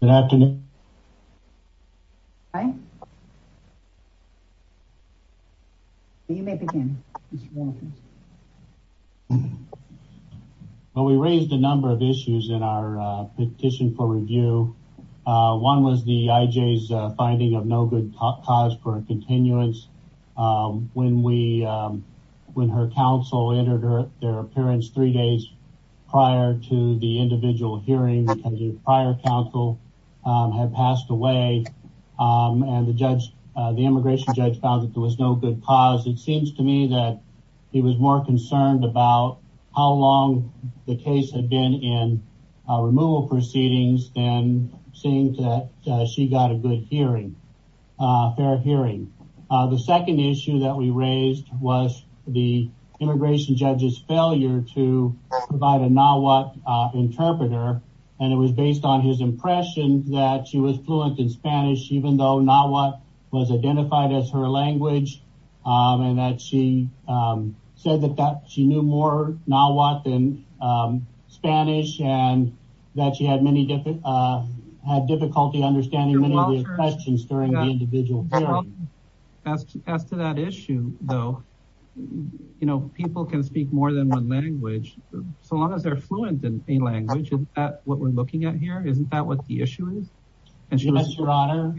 Well, we raised a number of issues in our petition for review. One was the IJ's finding of no good cause for continuance when her counsel entered their appearance three days prior to the individual hearing because her prior counsel had passed away and the immigration judge found that there was no good cause. It seems to me that he was more concerned about how long the case had been in removal proceedings than seeing that she got a good hearing. The second issue that we raised was the immigration judge's failure to provide a Nahuatl interpreter and it was based on his impression that she was fluent in Spanish even though Nahuatl was identified as her language and that she said that she knew more Nahuatl than Spanish and that she had difficulty understanding many of the expressions during the individual hearing. As to that issue though, you know people can speak more than one language so long as they're fluent in a language. Isn't that what we're looking at here? Isn't that what the issue is? Yes, your honor.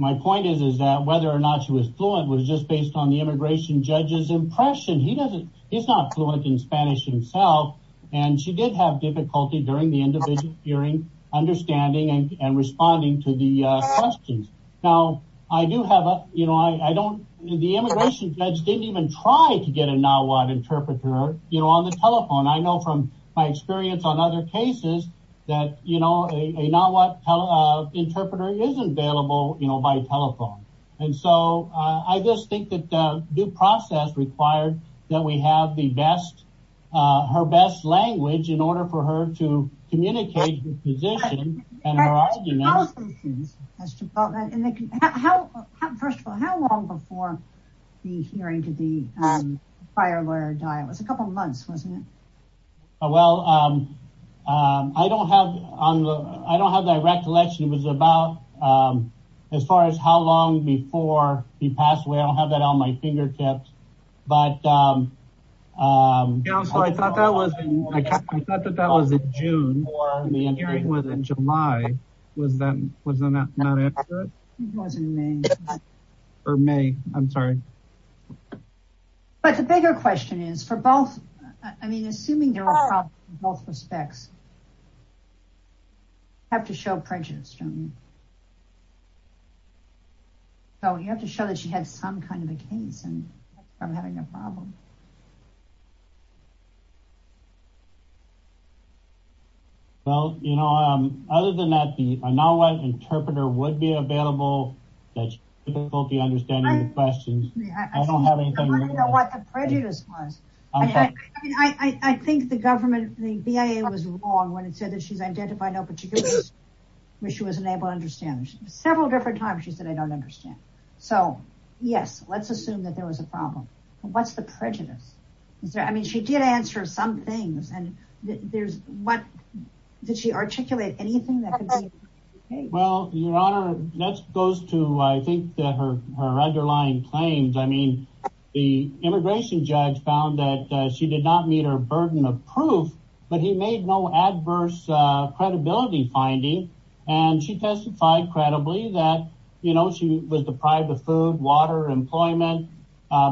My point is that whether or not she was fluent was just based on the immigration judge's impression. He's not fluent in Spanish himself and she did have difficulty during the individual hearing understanding and responding to the questions. Now, the immigration judge didn't even try to get a Nahuatl interpreter on the telephone. I know from my experience on other cases that a Nahuatl interpreter is available by telephone. I just think that due process required that we have her best language in order for her to communicate her position. First of all, how long before the hearing did the fire lawyer die? It was a couple months, wasn't it? Well, I don't have that recollection. As far as how long before he passed away, I don't have that on my fingertips. I thought that was in June. The hearing was in July. Was that not accurate? It was in May. But the bigger question is, assuming there were problems in both respects, you have to show prejudice, don't you? So, you have to show that she had some kind of a case and that's from having a problem. Well, you know, other than that, the Nahuatl interpreter would be available. I think the government, the BIA was wrong when it said that she's identified no particular issues she wasn't able to understand. Several different times she said, I don't understand. So, yes, let's assume that there was a problem. What's the prejudice? I mean, she did answer some things. Did she articulate anything? Well, your honor, that goes to, I think, her underlying claims. I mean, the immigration judge found that she did not meet her burden of proof, but he made no adverse credibility finding. And she testified credibly that, you know, she was deprived of food, water, employment,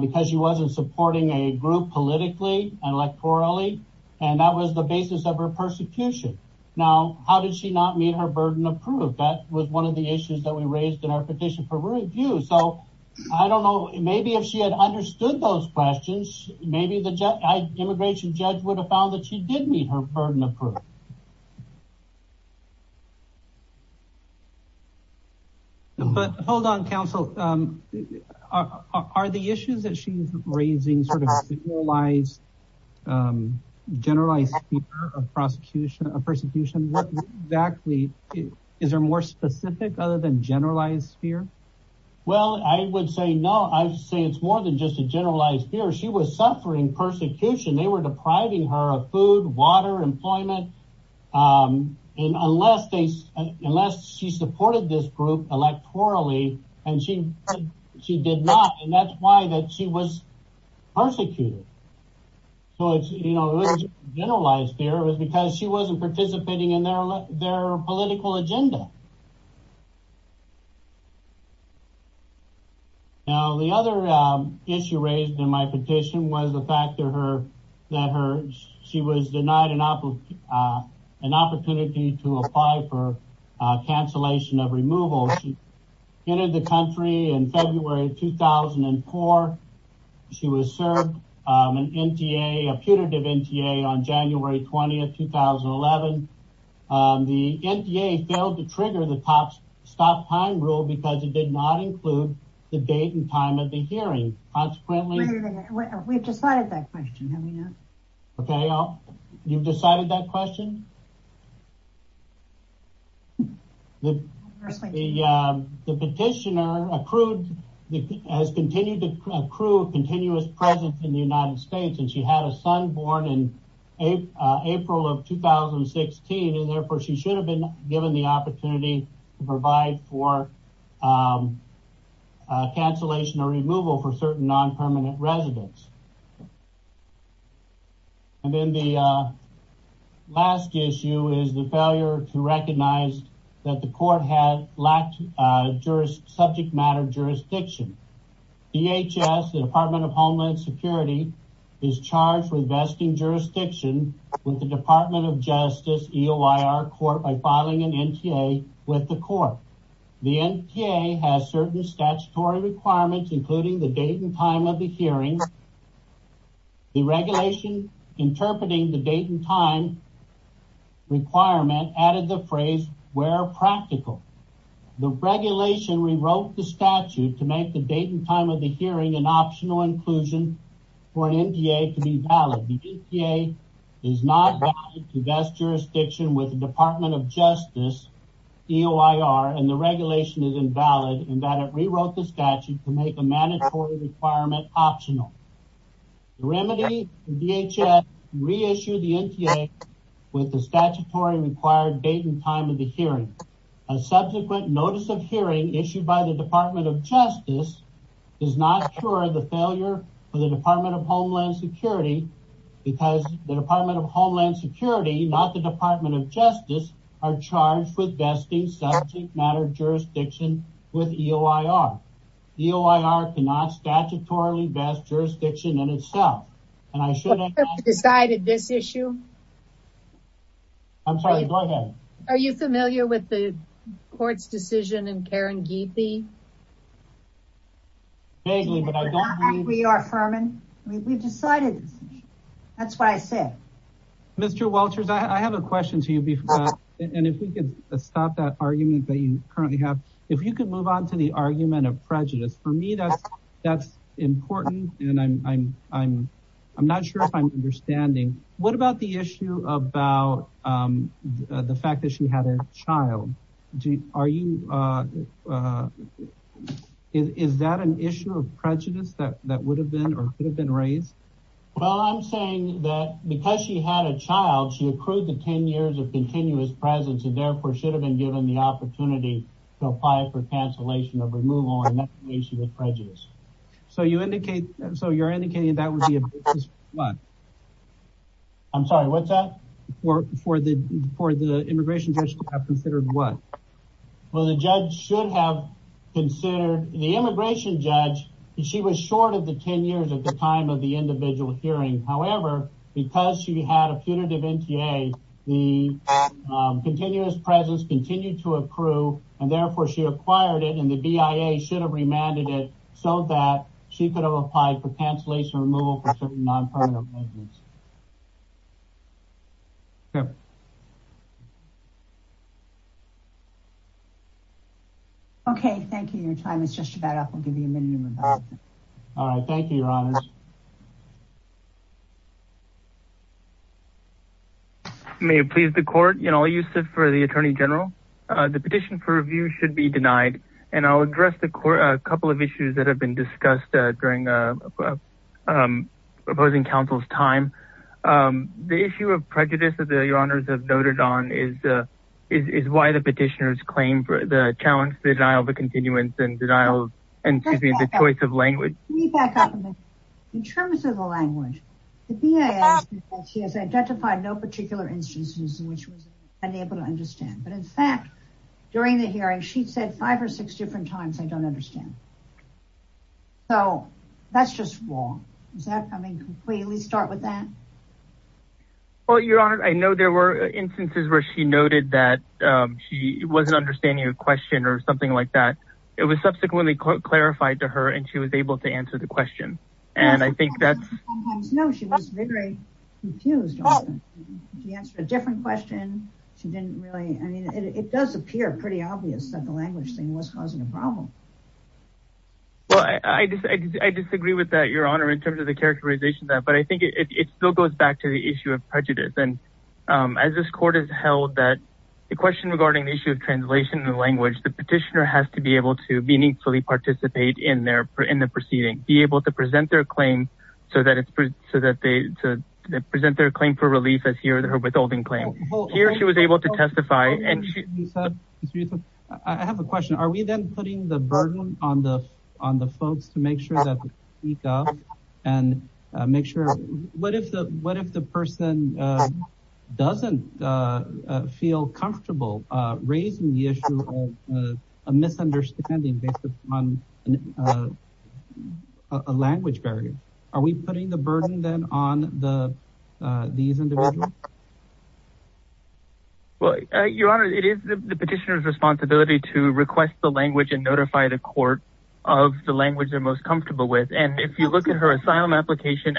because she wasn't supporting a group politically and electorally. And that was the basis of her persecution. Now, how did she not meet her burden of proof? That was one of the issues that we raised in our petition for review. So, I don't know, maybe if she had understood those questions, maybe the immigration judge would have found that she did meet her burden of proof. But hold on, counsel. Are the issues that she's raising sort of generalized, generalized fear of prosecution, of persecution? What exactly, is there more specific other than generalized fear? Well, I would say no. I would say it's more than just a generalized fear. She was suffering persecution. They were depriving her of food, water, employment. And unless they, unless she supported this group electorally, and she did not, and that's why that she was persecuted. So, it's, you know, it was generalized fear, it was because she wasn't participating in their political agenda. Now, the other issue raised in my petition was the fact that her, that her, she was denied an opportunity to apply for cancellation of removal. She entered the country in February of 2004. She was served an NTA, a putative NTA on January 20th, 2011. The NTA failed to trigger the top stop time rule because it did not include the date and time of the hearing. Consequently... We've decided that question, have we not? Okay, you've decided that question? The petitioner accrued, has continued to accrue a continuous presence in the United States, and she had a son born in April of 2016. And therefore, she should have been given the opportunity to provide for cancellation or removal for certain non-permanent residents. And then the last issue is the failure to recognize that the court had lacked jurist subject matter jurisdiction. DHS, the Department of Homeland Security, is charged with vesting jurisdiction with the Department of Justice EOIR court by filing an NTA with the court. The NTA has certain statutory requirements, including the date and time of the hearing. The regulation interpreting the date and time requirement added the phrase where practical. The regulation rewrote the statute to make the date and time of the hearing an optional inclusion for an NTA to be valid. The NTA is not valid to vest jurisdiction with the Department of Justice EOIR, and the regulation is invalid in that it rewrote the statute to make a mandatory requirement optional. The remedy, DHS reissued the NTA with the statutory required date and time of the hearing. A subsequent notice of hearing issued by the Department of Justice is not sure the failure of the Department of Homeland Security because the Department of Homeland Security, not the Department of Justice, are charged with vesting subject matter jurisdiction with EOIR. EOIR cannot statutorily vest jurisdiction in itself, and I should have decided this issue. I'm sorry, go ahead. Are you familiar with the court's decision in Karen Gethy? We are Furman. We've decided. That's what I said. Mr. Walters, I have a question to you, and if we can stop that argument that you currently have. If you could move on to the argument of prejudice. For me, that's important, and I'm not sure if I'm understanding. What about the issue about the fact that she had a child? Is that an issue of prejudice that would have been or could have been raised? Well, I'm saying that because she had a child, she accrued the 10 years of continuous presence and therefore should have been given the opportunity to apply for cancellation of removal, and that's an issue with prejudice. So you're indicating that would be a basis for what? I'm sorry, what's that? For the immigration judge to have considered what? Well, the immigration judge, she was short of the 10 years at the time of the individual hearing. However, because she had a punitive NTA, the continuous presence continued to accrue, and therefore she acquired it, and the BIA should have remanded it so that she could have applied for cancellation removal for certain non-punitive reasons. Okay, thank you. Your time is just about up. I'll give you a minute. All right, thank you, your honor. May it please the court, Yannol Youssef for the attorney general. The petition for review should be denied, and I'll address a couple of issues that have been discussed during opposing counsel's time. The issue of prejudice that your honors have noted on is why the petitioners claim the challenge, the denial of the continuance, and the choice of in terms of the language. The BIA has identified no particular instances in which she was unable to understand, but in fact, during the hearing, she said five or six different times, I don't understand. So that's just wrong. Does that completely start with that? Well, your honor, I know there were instances where she noted that she wasn't understanding a question or something like that. It was subsequently clarified to her, and she was I think that's no, she was very confused. She answered a different question. She didn't really, I mean, it does appear pretty obvious that the language thing was causing a problem. Well, I disagree with that, your honor, in terms of the characterization of that, but I think it still goes back to the issue of prejudice. And as this court has held that the question regarding the issue of translation in the language, the petitioner has to be able to meaningfully participate in their, in the proceeding, be able to present their claim so that it's, so that they present their claim for relief as he or her withholding claim. Here she was able to testify and she. I have a question. Are we then putting the burden on the, on the folks to make sure that we go and make sure, what if the, what if the person doesn't feel comfortable raising the issue of a misunderstanding based upon a language barrier? Are we putting the burden then on the, these individuals? Well, your honor, it is the petitioner's responsibility to request the language and notify the court of the language they're most comfortable with. And if you look at her asylum application,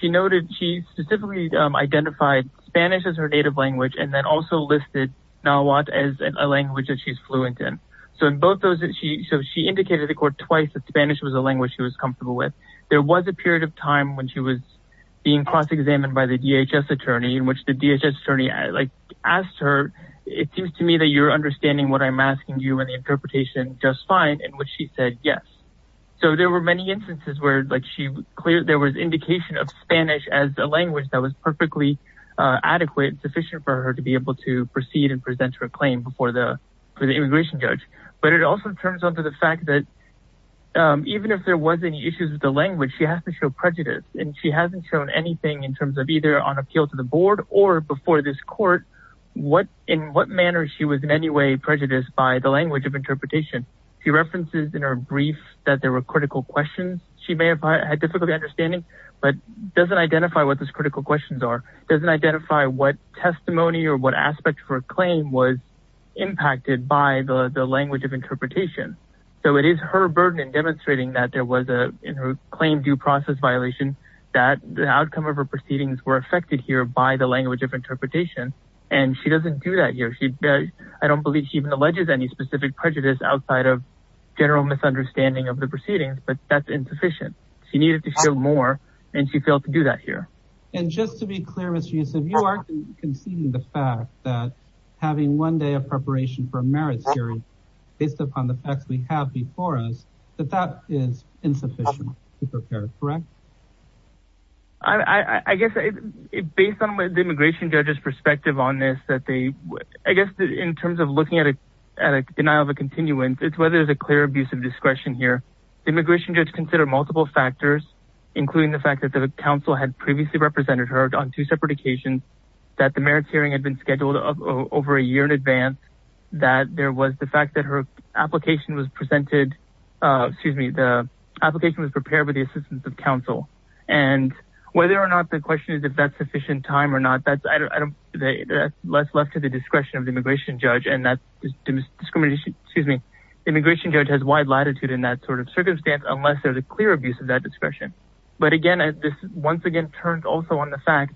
she noted, she specifically identified Spanish as her native language, and then also listed Nahuatl as a language that she's fluent in. So in both those, she, so she indicated to the court twice that Spanish was a language she was comfortable with. There was a period of time when she was being cross-examined by the DHS attorney in which the DHS attorney asked her, it seems to me that you're understanding what I'm asking you and the interpretation just fine, in which she said yes. So there were many instances where like she cleared, there was indication of Spanish as a language that was perfectly adequate and sufficient for her to be able to proceed and present her claim before the immigration judge. But it also turns onto the fact that even if there was any issues with the language, she has to show prejudice and she hasn't shown anything in terms of either on appeal to the board or before this court, what, in what manner she was in any way prejudiced by the language of interpretation. She references in her brief that there were critical questions she may have had difficulty understanding, but doesn't identify what those critical questions are, doesn't identify what testimony or what aspect of her claim was impacted by the language of interpretation. So it is her burden in demonstrating that there was a, in her claim due process violation, that the outcome of her proceedings were affected here by the language of interpretation, and she doesn't do that here. She, I don't believe she even alleges any specific prejudice outside of general misunderstanding of the proceedings, but that's insufficient. She needed to show more and she failed to do that here. And just to be clear, Mr. Yusuf, you are conceding the fact that having one day of preparation for a merit series based upon the facts we have before us, that that is insufficient to prepare, correct? I guess based on the immigration judge's perspective on this, that they, I guess in terms of looking at a denial of a continuance, it's whether there's a clear abuse of discretion here. The immigration judge considered multiple factors, including the fact that the council had previously represented her on two separate occasions, that the merits hearing had been scheduled over a year in advance, that there was the fact that her application was presented, excuse me, the application was prepared with the assistance of council. And whether or not the question is if that's sufficient time or not, that's, that's left to the discretion of the immigration judge and that discrimination, excuse me, the immigration judge has wide latitude in that sort of circumstance, unless there's a clear abuse of that discretion. But again, this once again turns also on the fact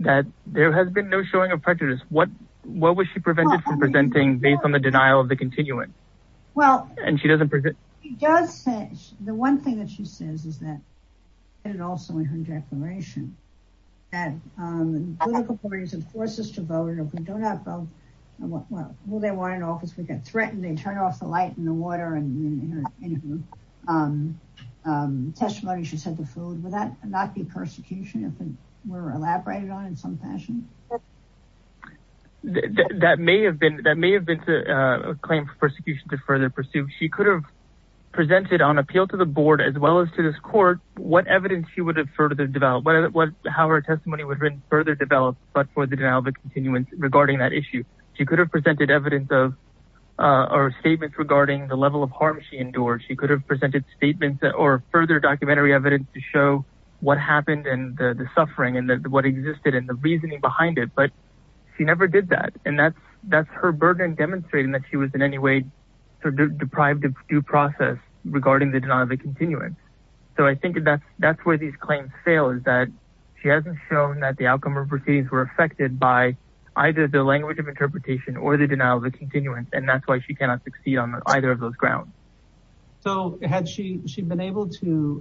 that there has been no showing of prejudice. What was she prevented from presenting based on the denial of the continuance? And she doesn't present. Well, she does say, the one thing that she says is that and also in her declaration that political parties and forces to vote, if we don't have both, will they want an office? We get threatened, they turn off the light in the water and testimony. She said the food, would that not be persecution if it were elaborated on in some fashion? That may have been, that may have been a claim for persecution to further pursue. She could have presented on appeal to the board, as well as to this court, what evidence she would have further developed, what, how her testimony would have been further developed, but for the denial of the continuance regarding that issue. She could have presented evidence of, or statements regarding the level of harm she endured. She could have presented statements that, or further documentary evidence to show what happened and the suffering and what existed and the reasoning behind it. But she never did that. And that's, that's her burden demonstrating that she was in due process regarding the denial of the continuance. So I think that's, that's where these claims fail is that she hasn't shown that the outcome of her proceedings were affected by either the language of interpretation or the denial of the continuance. And that's why she cannot succeed on either of those grounds. So had she, she'd been able to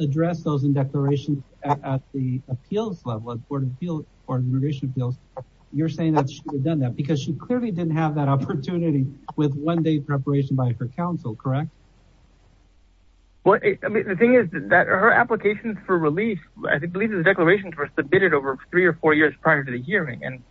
address those in declarations at the appeals level of board of appeals or immigration appeals, you're saying that she would have done that because she clearly didn't have that opportunity with one day preparation by her counsel, correct? Well, I mean, the thing is that her applications for relief, I think the lease of the declarations were submitted over three or four years prior to the hearing. And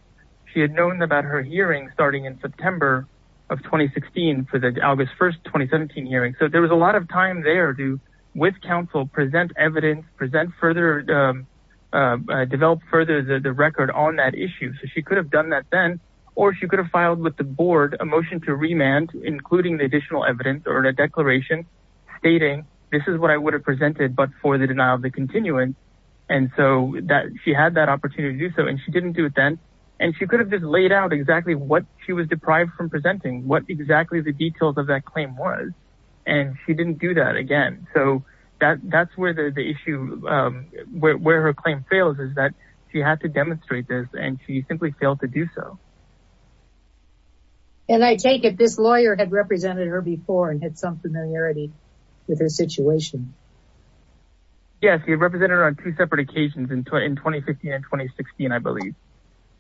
she had known about her hearing starting in September of 2016 for the August 1st, 2017 hearing. So there was a lot of time there to, with counsel, present evidence, present further, develop further the record on that issue. So she could have done that then, or she could have filed with the board, a motion to remand, including the additional evidence or a declaration stating, this is what I would have presented, but for the denial of the continuance. And so that she had that opportunity to do so, and she didn't do it then. And she could have just laid out exactly what she was deprived from presenting, what exactly the details of that claim was. And she didn't do that again. So that that's where the issue, where her claim fails is that she had to demonstrate this and she simply failed to do so. And I take it, this lawyer had represented her before and had some familiarity with her situation. Yes, he represented her on two separate occasions in 2015 and 2016, I believe.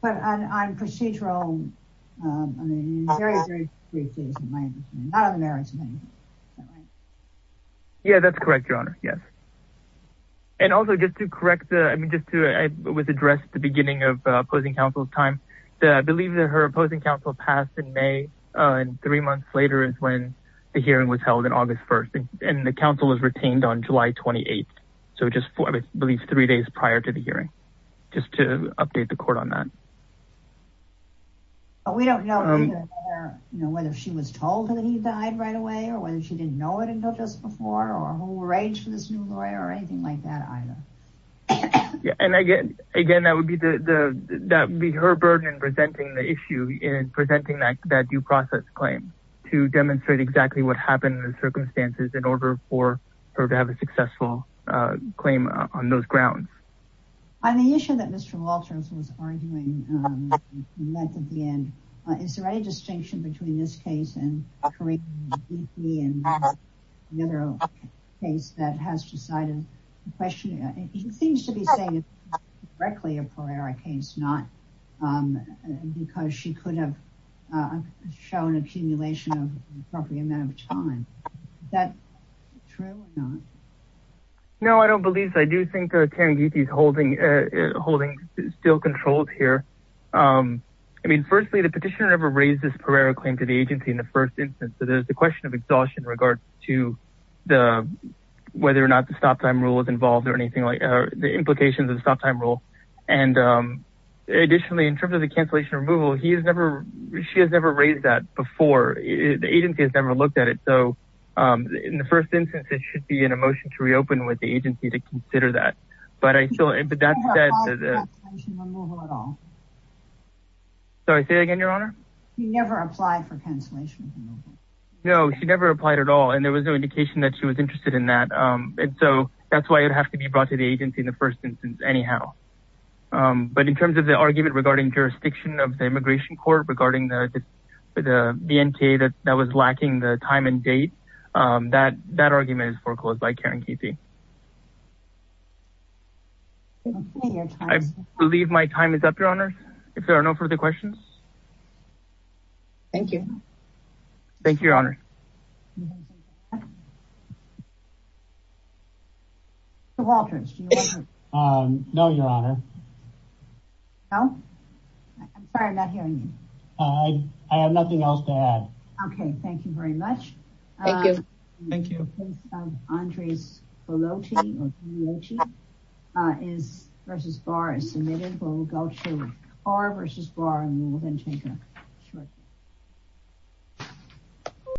But on procedural, I mean, very, very brief, not on the marriage. Yeah, that's correct, Your Honor. Yes. And also just to correct the, I mean, just to, it was addressed at the beginning of opposing counsel's time. I believe that her opposing counsel passed in May, and three months later is when the hearing was held on August 1st. And the counsel was retained on July 28th. So just, I believe, three days prior to the hearing, just to update the court on that. We don't know whether she was told that he died right away, or whether she didn't know it until just before, or who arranged for this new lawyer, or anything like that either. Yeah, and again, that would be the, that would be her burden in presenting the issue, in presenting that due process claim to demonstrate exactly what happened in the circumstances in order for her to have a successful claim on those grounds. On the issue that Mr. Walters was arguing at the end, is there any distinction between this case and another case that has decided the question? He seems to be saying it's directly a Pereira case, not because she could have shown accumulation of the appropriate amount of time. Is that true or not? No, I don't believe so. I do think Taniguchi is holding, holding still control here. I mean, firstly, the petitioner never raised this Pereira claim to the agency in the first instance. So there's the question of exhaustion in regards to the, whether or not the stop time rule is involved, or anything like, the implications of the stop time rule. And additionally, in terms of the cancellation removal, he has never, she has never raised that before. The agency has never looked at it. So in the first instance, it should be in a motion to reopen with the agency to consider that. But I still, but that said, Sorry, say that again, Your Honor. He never applied for cancellation. No, she never applied at all. And there was no indication that she was interested in that. And so that's why it would have to be brought to the agency in the first instance, anyhow. But in terms of the argument regarding jurisdiction of the immigration court regarding the, the, the NTA that, that was lacking the time and date, that, that argument is foreclosed by Karen Pepe. I believe my time is up, Your Honor. If there are no further questions. Thank you. Thank you, Your Honor. Mr. Walters. No, Your Honor. No? I'm sorry, I'm not hearing you. I have nothing else to add. Thank you. Andres Belotti versus Barr is submitted, but we'll go to Barr versus Barr and we will then change that shortly.